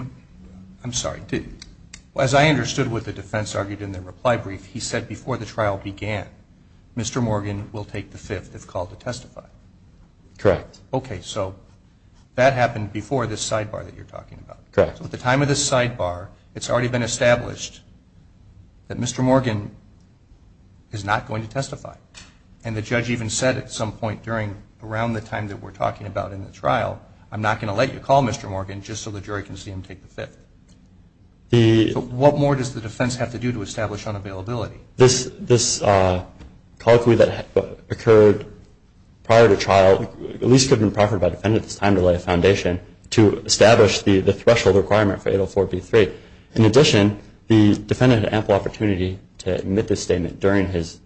I'm sorry, did, as I understood what the defense argued in the reply brief, he said before the trial began, Mr. Morgan will take the fifth of call to testify. Correct. Okay, so that happened before this sidebar that you're talking about. Correct. So at the time of this sidebar, it's already been established that Mr. Morgan is not going to testify. And the judge even said at some point during, around the time that we're talking about in the trial, I'm not gonna let you call Mr. Morgan just so the jury can see him take the fifth. The- So what more does the defense have to do to establish unavailability? This, this colloquy that occurred prior to trial, at least could have been proffered by defendants time to lay a foundation to establish the, the threshold requirement for 804B3. In addition, the defendant had ample opportunity to admit this statement during his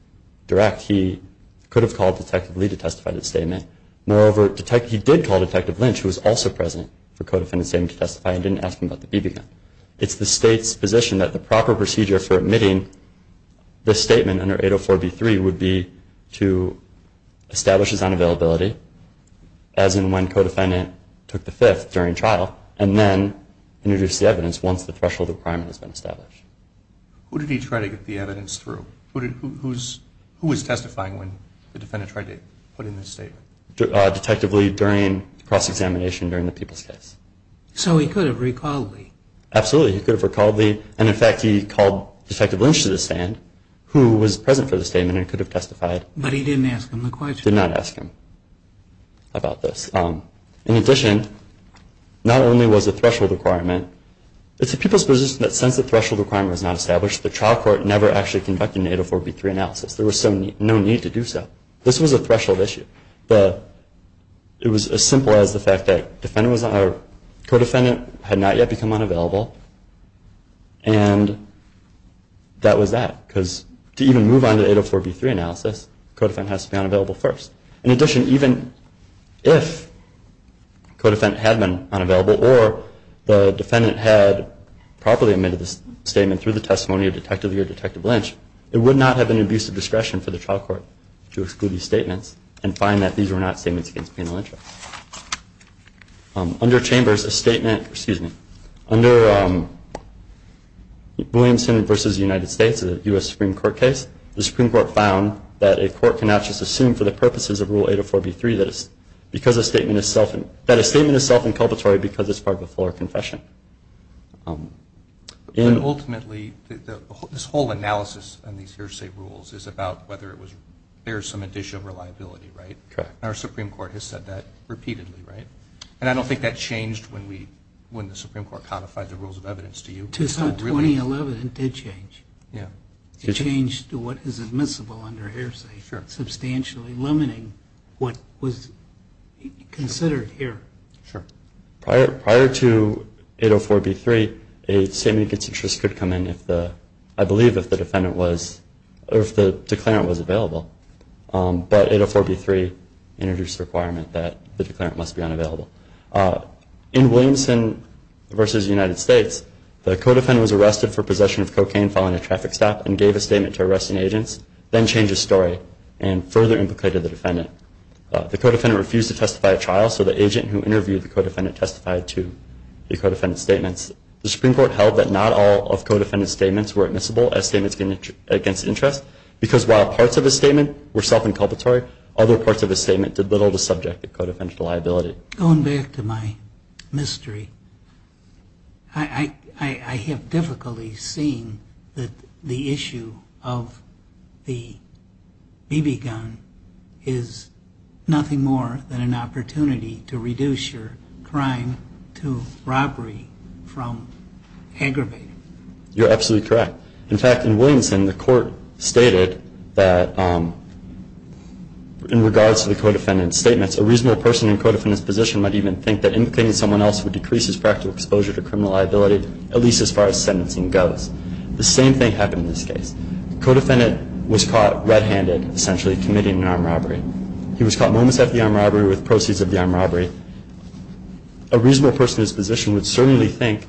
direct, he could have called Detective Lee to testify to the statement. Moreover, detect, he did call Detective Lynch, who was also present for co-defendant's statement to testify, and didn't ask him about the BB gun. It's the state's position that the proper procedure for admitting the statement under 804B3 would be to establish his unavailability, as in when co-defendant took the fifth during trial. And then introduce the evidence once the threshold requirement has been established. Who did he try to get the evidence through? Who did, who, who's, who was testifying when the defendant tried to put in this statement? Detective Lee during cross-examination during the Peoples case. So he could have recalled Lee. Absolutely, he could have recalled Lee, and in fact, he called Detective Lynch to the stand, who was present for the statement and could have testified. But he didn't ask him the question. Did not ask him about this. In addition, not only was the threshold requirement, it's the people's position that since the threshold requirement was not established, the trial court never actually conducted an 804B3 analysis. There was no need to do so. This was a threshold issue. It was as simple as the fact that co-defendant had not yet become unavailable. And that was that, because to even move on to 804B3 analysis, co-defendant has to be unavailable first. In addition, even if co-defendant had been unavailable or the defendant had properly admitted this statement through the testimony of Detective Lee or Detective Lynch, it would not have been an abuse of discretion for the trial court to exclude these statements and find that these were not statements against penal interest. Under Chambers, a statement, excuse me, under Williamson versus the United States, a US Supreme Court case, the Supreme Court found that a court cannot just assume for the purposes of Rule 804B3 that a statement is self-inculpatory because it's part of a fuller confession. And ultimately, this whole analysis on these hearsay rules is about whether there's some additional reliability, right? Correct. Our Supreme Court has said that repeatedly, right? And I don't think that changed when the Supreme Court codified the rules of evidence to you. It's not 2011, it did change. Yeah. It changed what is admissible under hearsay. Substantially limiting what was considered here. Sure. Prior to 804B3, a statement against interest could come in if the, I believe if the defendant was, or if the declarant was available. But 804B3 introduced a requirement that the declarant must be unavailable. In Williamson versus United States, the co-defendant was arrested for possession of cocaine following a traffic stop and further implicated the defendant. The co-defendant refused to testify at trial, so the agent who interviewed the co-defendant testified to the co-defendant's statements. The Supreme Court held that not all of co-defendant's statements were admissible as statements against interest. Because while parts of his statement were self-inculpatory, other parts of his statement did little to subject the co-defendant to liability. Going back to my mystery, I have difficulty seeing that the issue of the BB gun is nothing more than an opportunity to reduce your crime to robbery from aggravating. You're absolutely correct. In fact, in Williamson, the court stated that in regards to the co-defendant's statements, a reasonable person in co-defendant's position might even think that anything to someone else would decrease his practical exposure to criminal liability, at least as far as sentencing goes. The same thing happened in this case. The co-defendant was caught red-handed, essentially committing an armed robbery. He was caught moments after the armed robbery with proceeds of the armed robbery. A reasonable person in his position would certainly think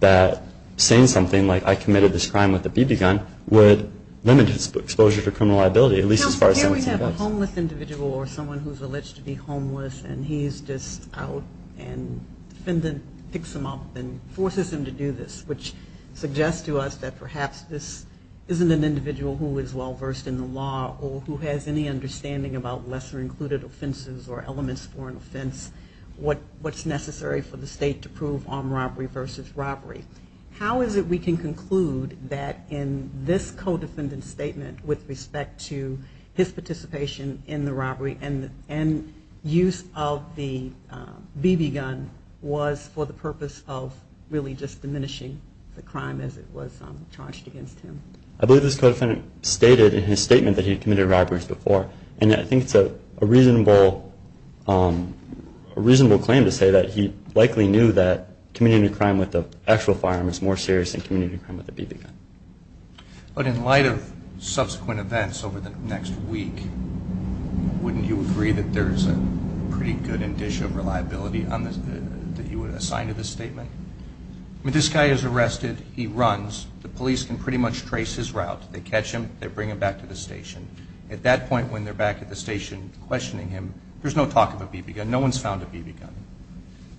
that saying something like I committed this crime with a BB gun would limit his exposure to criminal liability, at least as far as sentencing goes. Now, here we have a homeless individual or someone who's alleged to be homeless and he's just out and the defendant picks him up and forces him to do this. Which suggests to us that perhaps this isn't an individual who is well versed in the law or who has any understanding about lesser included offenses or elements for an offense, what's necessary for the state to prove armed robbery versus robbery. How is it we can conclude that in this co-defendant's statement with respect to his participation in the robbery and use of the BB gun was for the purpose of really just diminishing the crime as it was charged against him? I believe this co-defendant stated in his statement that he had committed robberies before and I think it's a reasonable claim to say that he likely knew that committing a crime with an actual firearm is more serious than committing a crime with a BB gun. But in light of subsequent events over the next week, wouldn't you agree that there's a pretty good dish of reliability that you would assign to this statement? When this guy is arrested, he runs, the police can pretty much trace his route. They catch him, they bring him back to the station. At that point when they're back at the station questioning him, there's no talk of a BB gun. No one's found a BB gun.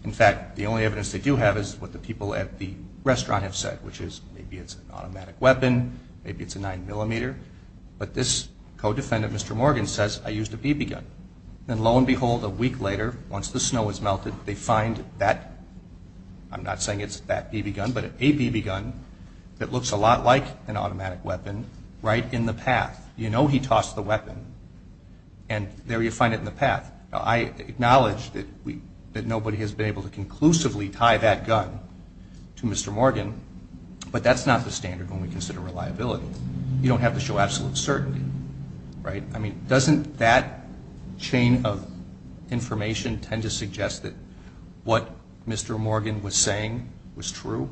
In fact, the only evidence they do have is what the people at the restaurant have said, which is maybe it's an automatic weapon, maybe it's a 9mm. But this co-defendant, Mr. Morgan, says I used a BB gun. And lo and behold, a week later, once the snow has melted, they find that, I'm not saying it's that BB gun, but a BB gun that looks a lot like an automatic weapon right in the path. You know he tossed the weapon and there you find it in the path. I acknowledge that nobody has been able to conclusively tie that gun to Mr. Morgan, but that's not the standard when we consider reliability. You don't have to show absolute certainty, right? I mean, doesn't that chain of information tend to suggest that what Mr. Morgan was saying was true?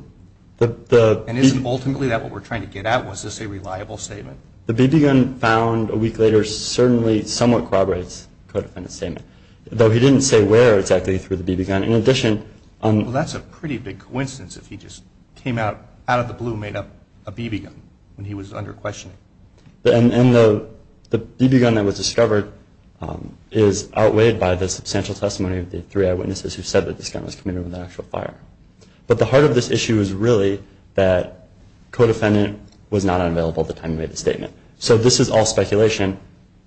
And isn't ultimately that what we're trying to get at? Was this a reliable statement? The BB gun found a week later certainly somewhat corroborates the co-defendant's statement. Though he didn't say where exactly through the BB gun. In addition, that's a pretty big coincidence if he just came out of the blue and made up a BB gun when he was under questioning. And the BB gun that was discovered is outweighed by the substantial testimony of the three eyewitnesses who said that this gun was committed with an actual fire. But the heart of this issue is really that co-defendant was not unavailable at the time he made the statement. So this is all speculation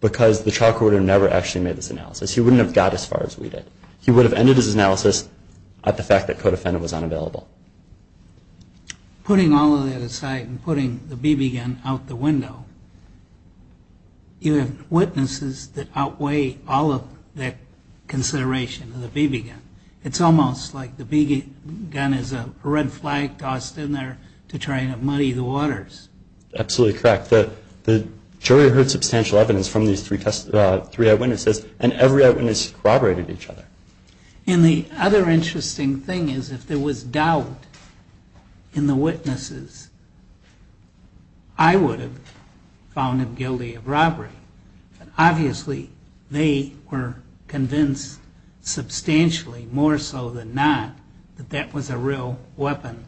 because the trial court would have never actually made this analysis. He wouldn't have got as far as we did. He would have ended his analysis at the fact that co-defendant was unavailable. Putting all of that aside and putting the BB gun out the window, you have witnesses that outweigh all of that consideration of the BB gun. It's almost like the BB gun is a red flag tossed in there to try and muddy the waters. Absolutely correct. The jury heard substantial evidence from these three eyewitnesses. And every eyewitness corroborated each other. And the other interesting thing is if there was doubt in the witnesses, I would have found him guilty of robbery. Obviously, they were convinced substantially more so than not that that was a real weapon.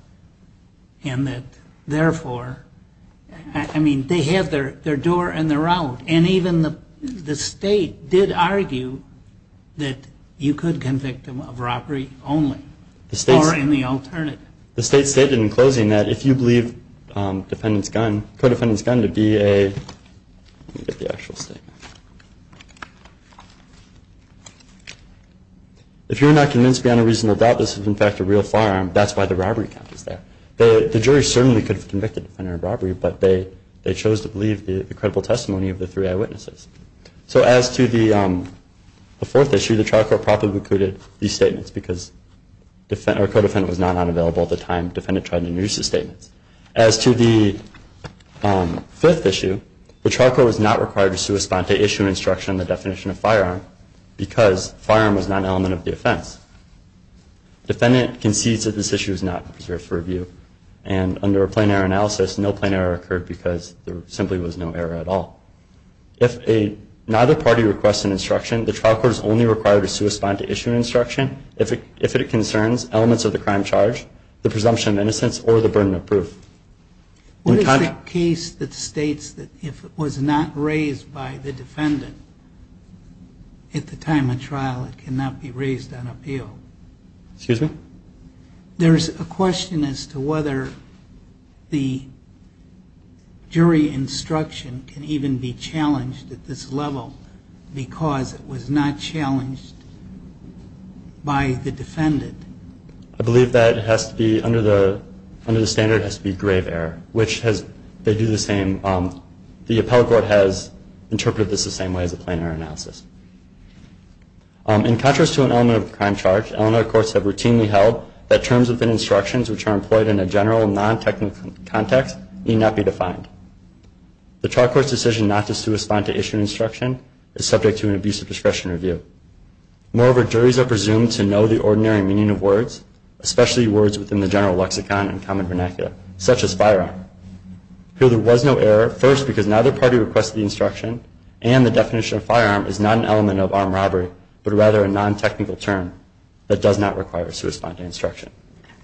And that therefore, I mean, they had their door and their out. And even the state did argue that you could convict him of robbery only. Or in the alternative. The state stated in closing that if you believe co-defendant's gun to be a, let me get the actual statement. If you're not convinced beyond a reasonable doubt this is in fact a real firearm, that's why the robbery count is there. The jury certainly could have convicted the offender of robbery, but they chose to believe the credible testimony of the three eyewitnesses. So as to the fourth issue, the trial court probably included these statements because co-defendant was not available at the time defendant tried to introduce the statements. As to the fifth issue, the trial court was not required to respond to issue instruction on the definition of firearm because firearm was not an element of the offense. Defendant concedes that this issue is not preserved for review. And under a plain error analysis, no plain error occurred because there simply was no error at all. If neither party requests an instruction, the trial court is only required to suspend to issue instruction if it concerns elements of the crime charge, the presumption of innocence, or the burden of proof. What is the case that states that if it was not raised by the defendant at the time of trial, it cannot be raised on appeal? Excuse me? There's a question as to whether the jury instruction can even be challenged at this level because it was not challenged by the defendant. I believe that has to be, under the standard, has to be grave error, which has, they do the same, the appellate court has interpreted this the same way as a plain error analysis. In contrast to an element of a crime charge, Illinois courts have routinely held that terms within instructions which are employed in a general, non-technical context need not be defined. The trial court's decision not to suspend to issue instruction is subject to an abusive discretion review. Moreover, juries are presumed to know the ordinary meaning of words, especially words within the general lexicon and common vernacular, such as firearm. Here there was no error, first because neither party requested the instruction and the definition of firearm is not an element of armed robbery, but rather a non-technical term that does not require to respond to instruction.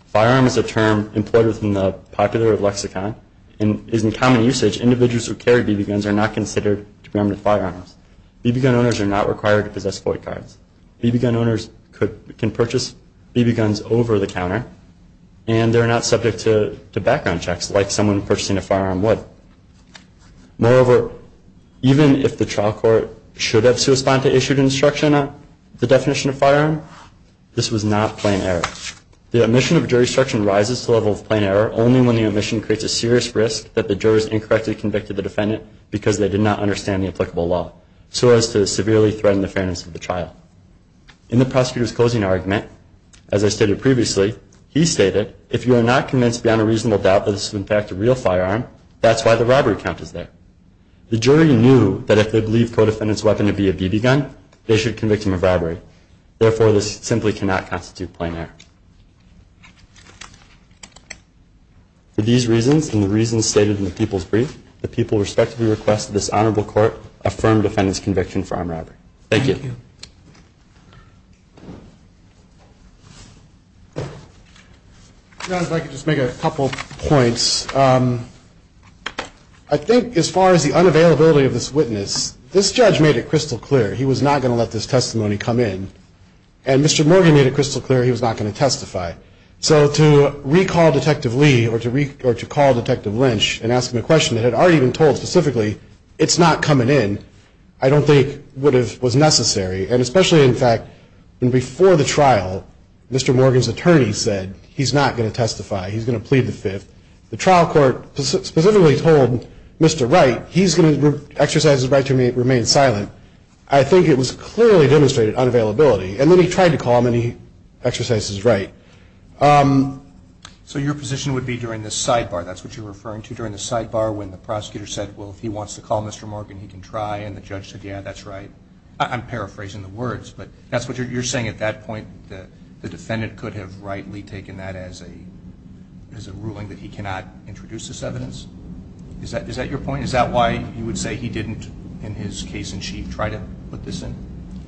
Firearm is a term employed within the popular lexicon and is in common usage. Individuals who carry BB guns are not considered to be armed with firearms. BB gun owners are not required to possess court cards. BB gun owners can purchase BB guns over the counter and they're not subject to background checks like someone purchasing a firearm would. Moreover, even if the trial court should have to respond to issued instruction on the definition of firearm, this was not plain error. The omission of jury instruction rises to level of plain error only when the omission creates a serious risk that the jurors incorrectly convicted the defendant because they did not understand the applicable law. So as to severely threaten the fairness of the trial. In the prosecutor's closing argument, as I stated previously, he stated, if you are not convinced beyond a reasonable doubt that this is in fact a real firearm, that's why the robbery count is there. The jury knew that if they believe co-defendant's weapon to be a BB gun, they should convict him of robbery. Therefore, this simply cannot constitute plain error. For these reasons and the reasons stated in the people's brief, the people respectively request that this honorable court affirm defendant's conviction for armed robbery. Thank you. If I could just make a couple of points, I think as far as the unavailability of this witness, this judge made it crystal clear he was not going to let this testimony come in and Mr. Morgan made it crystal clear he was not going to testify. So to recall Detective Lee or to recall Detective Lynch and ask him a question that had already been told specifically, it's not coming in, I don't think would have, was necessary. And especially, in fact, before the trial, Mr. Morgan's attorney said he's not going to testify, he's going to plead the fifth. The trial court specifically told Mr. Wright he's going to exercise his right to remain silent. I think it was clearly demonstrated unavailability. And then he tried to call him and he exercised his right. So your position would be during the sidebar, that's what you're referring to, during the sidebar when the prosecutor said, well, if he wants to call Mr. Morgan, he can try. And the judge said, yeah, that's right. I'm paraphrasing the words, but that's what you're saying at that point, the defendant could have rightly taken that as a ruling that he cannot introduce this evidence? Is that your point? Is that why you would say he didn't, in his case in chief, try to put this in?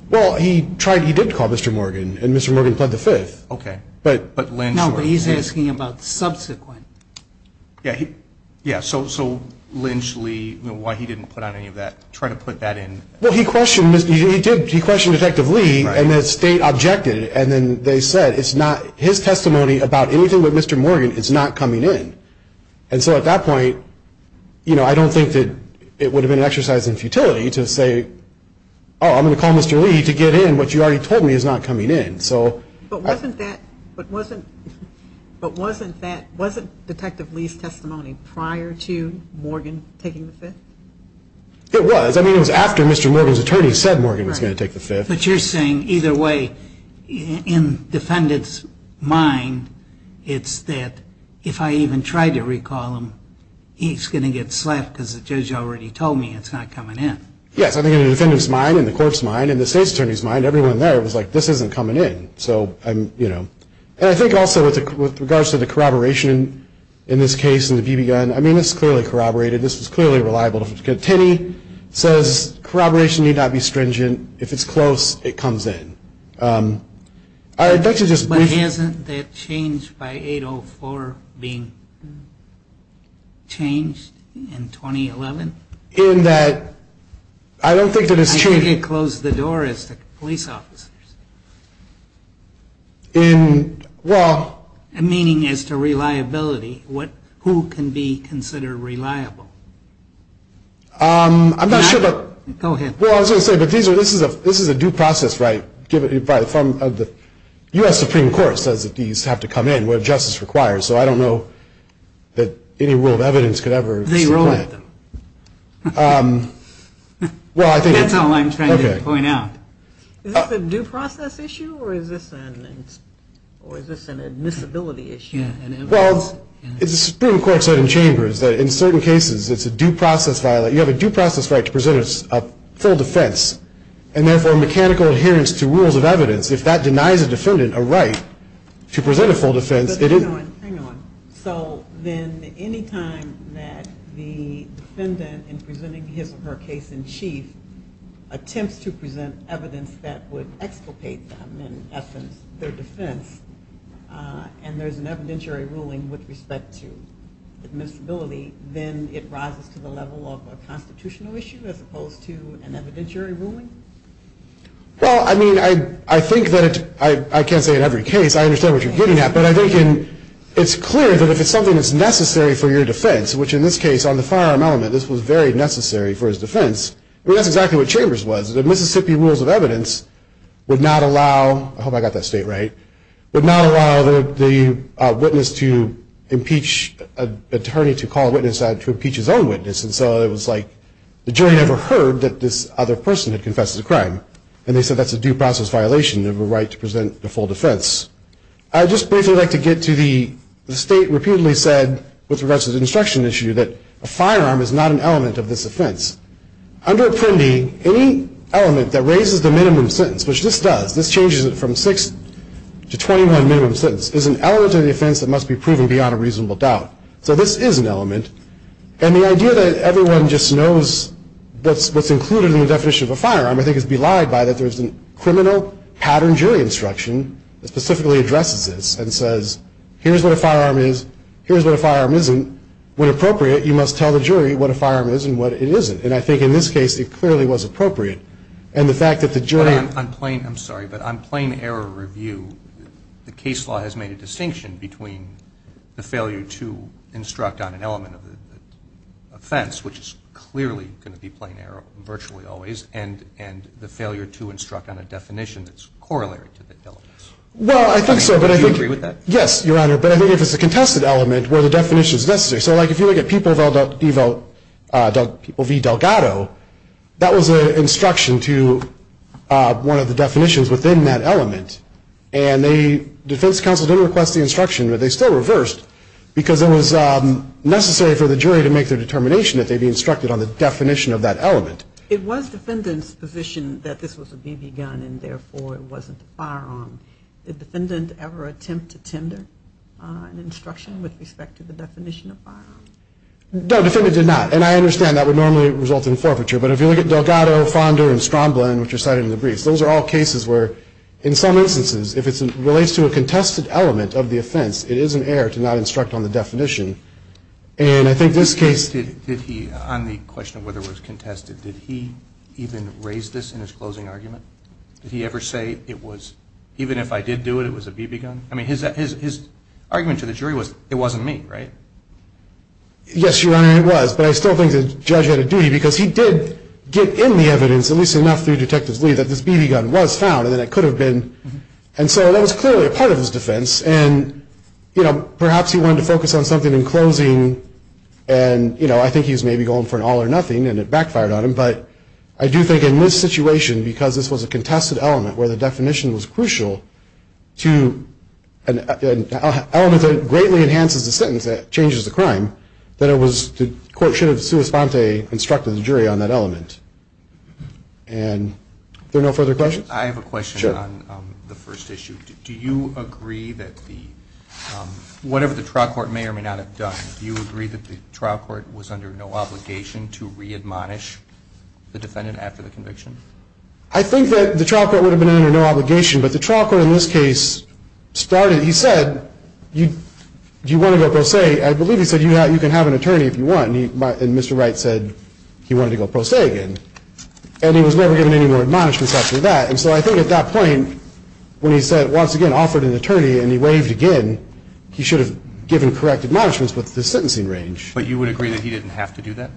Well, he did call Mr. Morgan, and Mr. Morgan pled the fifth. Okay. No, but he's asking about subsequent. Yeah, so Lynch, Lee, why he didn't put on any of that, try to put that in. Well, he questioned Detective Lee, and the state objected. And then they said it's not, his testimony about anything with Mr. Morgan is not coming in. And so at that point, you know, I don't think that it would have been an exercise in futility to say, oh, I'm going to call Mr. Lee to get in what you already told me is not coming in. But wasn't Detective Lee's testimony prior to Morgan taking the fifth? It was. I mean, it was after Mr. Morgan's attorney said Morgan was going to take the fifth. Right. But you're saying either way, in defendant's mind, it's that if I even tried to recall him, he's going to get slapped because the judge already told me it's not coming in. Yes. I think in the defendant's mind, in the court's mind, in the state's attorney's mind, everyone there was like, this isn't coming in. So I'm, you know. And I think also with regards to the corroboration in this case and the BB gun, I mean, this is clearly corroborated. This was clearly reliable. Tenney says corroboration need not be stringent. If it's close, it comes in. I'd like to just briefly. But hasn't that changed by 804 being changed in 2011? In that I don't think that it's changed. I think it closed the door as to police officers. In, well. Meaning as to reliability. Who can be considered reliable? I'm not sure. Go ahead. Well, I was going to say, but this is a due process, right? By the form of the U.S. Supreme Court says that these have to come in where justice requires. So I don't know that any rule of evidence could ever. They rule with them. Well, I think. That's all I'm trying to point out. Is this a due process issue or is this an admissibility issue? Well, it's the Supreme Court said in chambers that in certain cases it's a due process. You have a due process right to present a full defense. And therefore mechanical adherence to rules of evidence. If that denies a defendant a right to present a full defense. Hang on, hang on. So then any time that the defendant in presenting his or her case in chief attempts to present evidence that would exculpate them in essence their defense and there's an evidentiary ruling with respect to admissibility, then it rises to the level of a constitutional issue as opposed to an evidentiary ruling? Well, I mean, I think that I can't say in every case. I understand what you're getting at. But I think it's clear that if it's something that's necessary for your defense, which in this case on the firearm element this was very necessary for his defense. That's exactly what chambers was. The Mississippi rules of evidence would not allow, I hope I got that state right, would not allow the witness to impeach an attorney to call a witness to impeach his own witness. And so it was like the jury never heard that this other person had confessed to the crime. And they said that's a due process violation of a right to present a full defense. I'd just briefly like to get to the state repeatedly said with respect to the instruction issue that a firearm is not an element of this offense. Under Apprendi, any element that raises the minimum sentence, which this does, this changes it from 6 to 21 minimum sentence, is an element of the offense that must be proven beyond a reasonable doubt. So this is an element. And the idea that everyone just knows what's included in the definition of a firearm, I think, is belied by that there's a criminal pattern jury instruction that specifically addresses this and says here's what a firearm is, here's what a firearm isn't. When appropriate, you must tell the jury what a firearm is and what it isn't. And I think in this case, it clearly was appropriate. And the fact that the jury ---- I'm sorry, but on plain error review, the case law has made a distinction between the failure to instruct on an element of the offense, which is clearly going to be plain error virtually always, and the failure to instruct on a definition that's corollary to the elements. Well, I think so, but I think ---- Do you agree with that? Yes, Your Honor. But I think if it's a contested element where the definition is necessary. So, like, if you look at People v. Delgado, that was an instruction to one of the definitions within that element. And the defense counsel didn't request the instruction, but they still reversed, because it was necessary for the jury to make their determination that they be instructed on the definition of that element. It was defendant's position that this was a BB gun and, therefore, it wasn't a firearm. Did defendant ever attempt to tender an instruction with respect to the definition of firearm? No, defendant did not. And I understand that would normally result in forfeiture. But if you look at Delgado, Fonda, and Stromblin, which are cited in the briefs, those are all cases where, in some instances, if it relates to a contested element of the offense, it is an error to not instruct on the definition. And I think this case ---- Did he, on the question of whether it was contested, did he even raise this in his closing argument? Did he ever say, even if I did do it, it was a BB gun? I mean, his argument to the jury was, it wasn't me, right? Yes, Your Honor, it was. But I still think the judge had a duty, because he did get in the evidence at least enough through Detective Lee that this BB gun was found and that it could have been. And so that was clearly a part of his defense. And, you know, perhaps he wanted to focus on something in closing, and, you know, I think he was maybe going for an all or nothing, and it backfired on him. But I do think in this situation, because this was a contested element where the definition was crucial to an element that greatly enhances the sentence, that changes the crime, that the court should have sua sponte instructed the jury on that element. And are there no further questions? I have a question on the first issue. Do you agree that the ---- Whatever the trial court may or may not have done, do you agree that the trial court was under no obligation to re-admonish the defendant after the conviction? I think that the trial court would have been under no obligation, but the trial court in this case started. He said, do you want to go pro se? I believe he said, you can have an attorney if you want. And Mr. Wright said he wanted to go pro se again. And he was never given any more admonishments after that. And so I think at that point, when he said, once again, offered an attorney and he waved again, he should have given correct admonishments with the sentencing range. But you would agree that he didn't have to do that?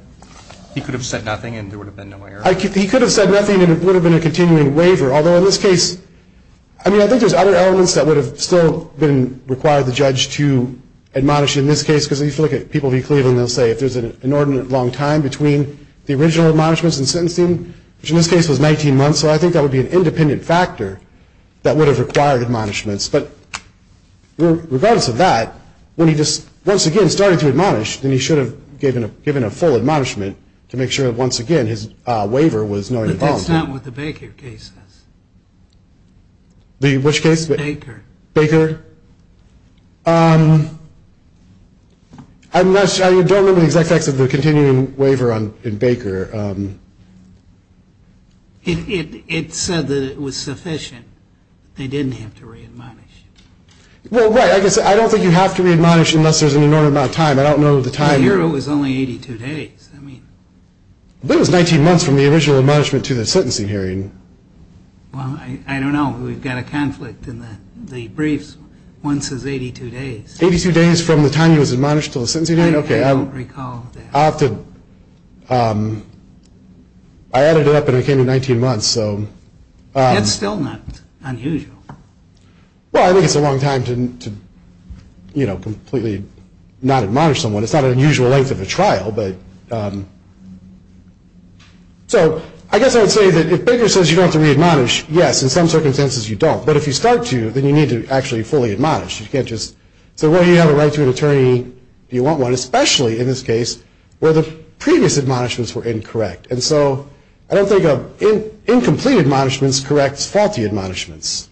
He could have said nothing and there would have been no error. He could have said nothing and it would have been a continuing waiver. Although in this case, I mean, I think there's other elements that would have still been required the judge to admonish in this case. Because if you look at people in Cleveland, they'll say if there's an inordinate long time between the original admonishments and sentencing, which in this case was 19 months, so I think that would be an independent factor that would have required admonishments. But regardless of that, when he just, once again, started to admonish, then he should have given a full admonishment to make sure that, once again, his waiver was knowingly wrong. But that's not what the Baker case says. Which case? Baker. Baker. I don't remember the exact facts of the continuing waiver in Baker. It said that it was sufficient. They didn't have to re-admonish. Well, right, I guess I don't think you have to re-admonish unless there's an inordinate amount of time. I don't know the time. Here it was only 82 days. But it was 19 months from the original admonishment to the sentencing hearing. Well, I don't know. We've got a conflict in the briefs. One says 82 days. Eighty-two days from the time he was admonished to the sentencing hearing? I don't recall that. I'll have to, I added it up and it came to 19 months, so. That's still not unusual. Well, I think it's a long time to, you know, completely not admonish someone. It's not an unusual length of a trial, but. So I guess I would say that if Baker says you don't have to re-admonish, yes, in some circumstances you don't. But if you start to, then you need to actually fully admonish. You can't just say, well, you have a right to an attorney if you want one, especially in this case where the previous admonishments were incorrect. And so I don't think incomplete admonishments corrects faulty admonishments.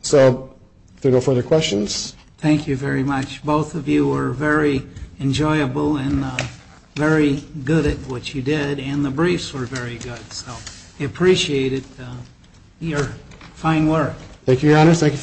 So if there are no further questions. Thank you very much. Both of you were very enjoyable and very good at what you did, and the briefs were very good. So we appreciated your fine work. Thank you, Your Honor. Thank you for your time.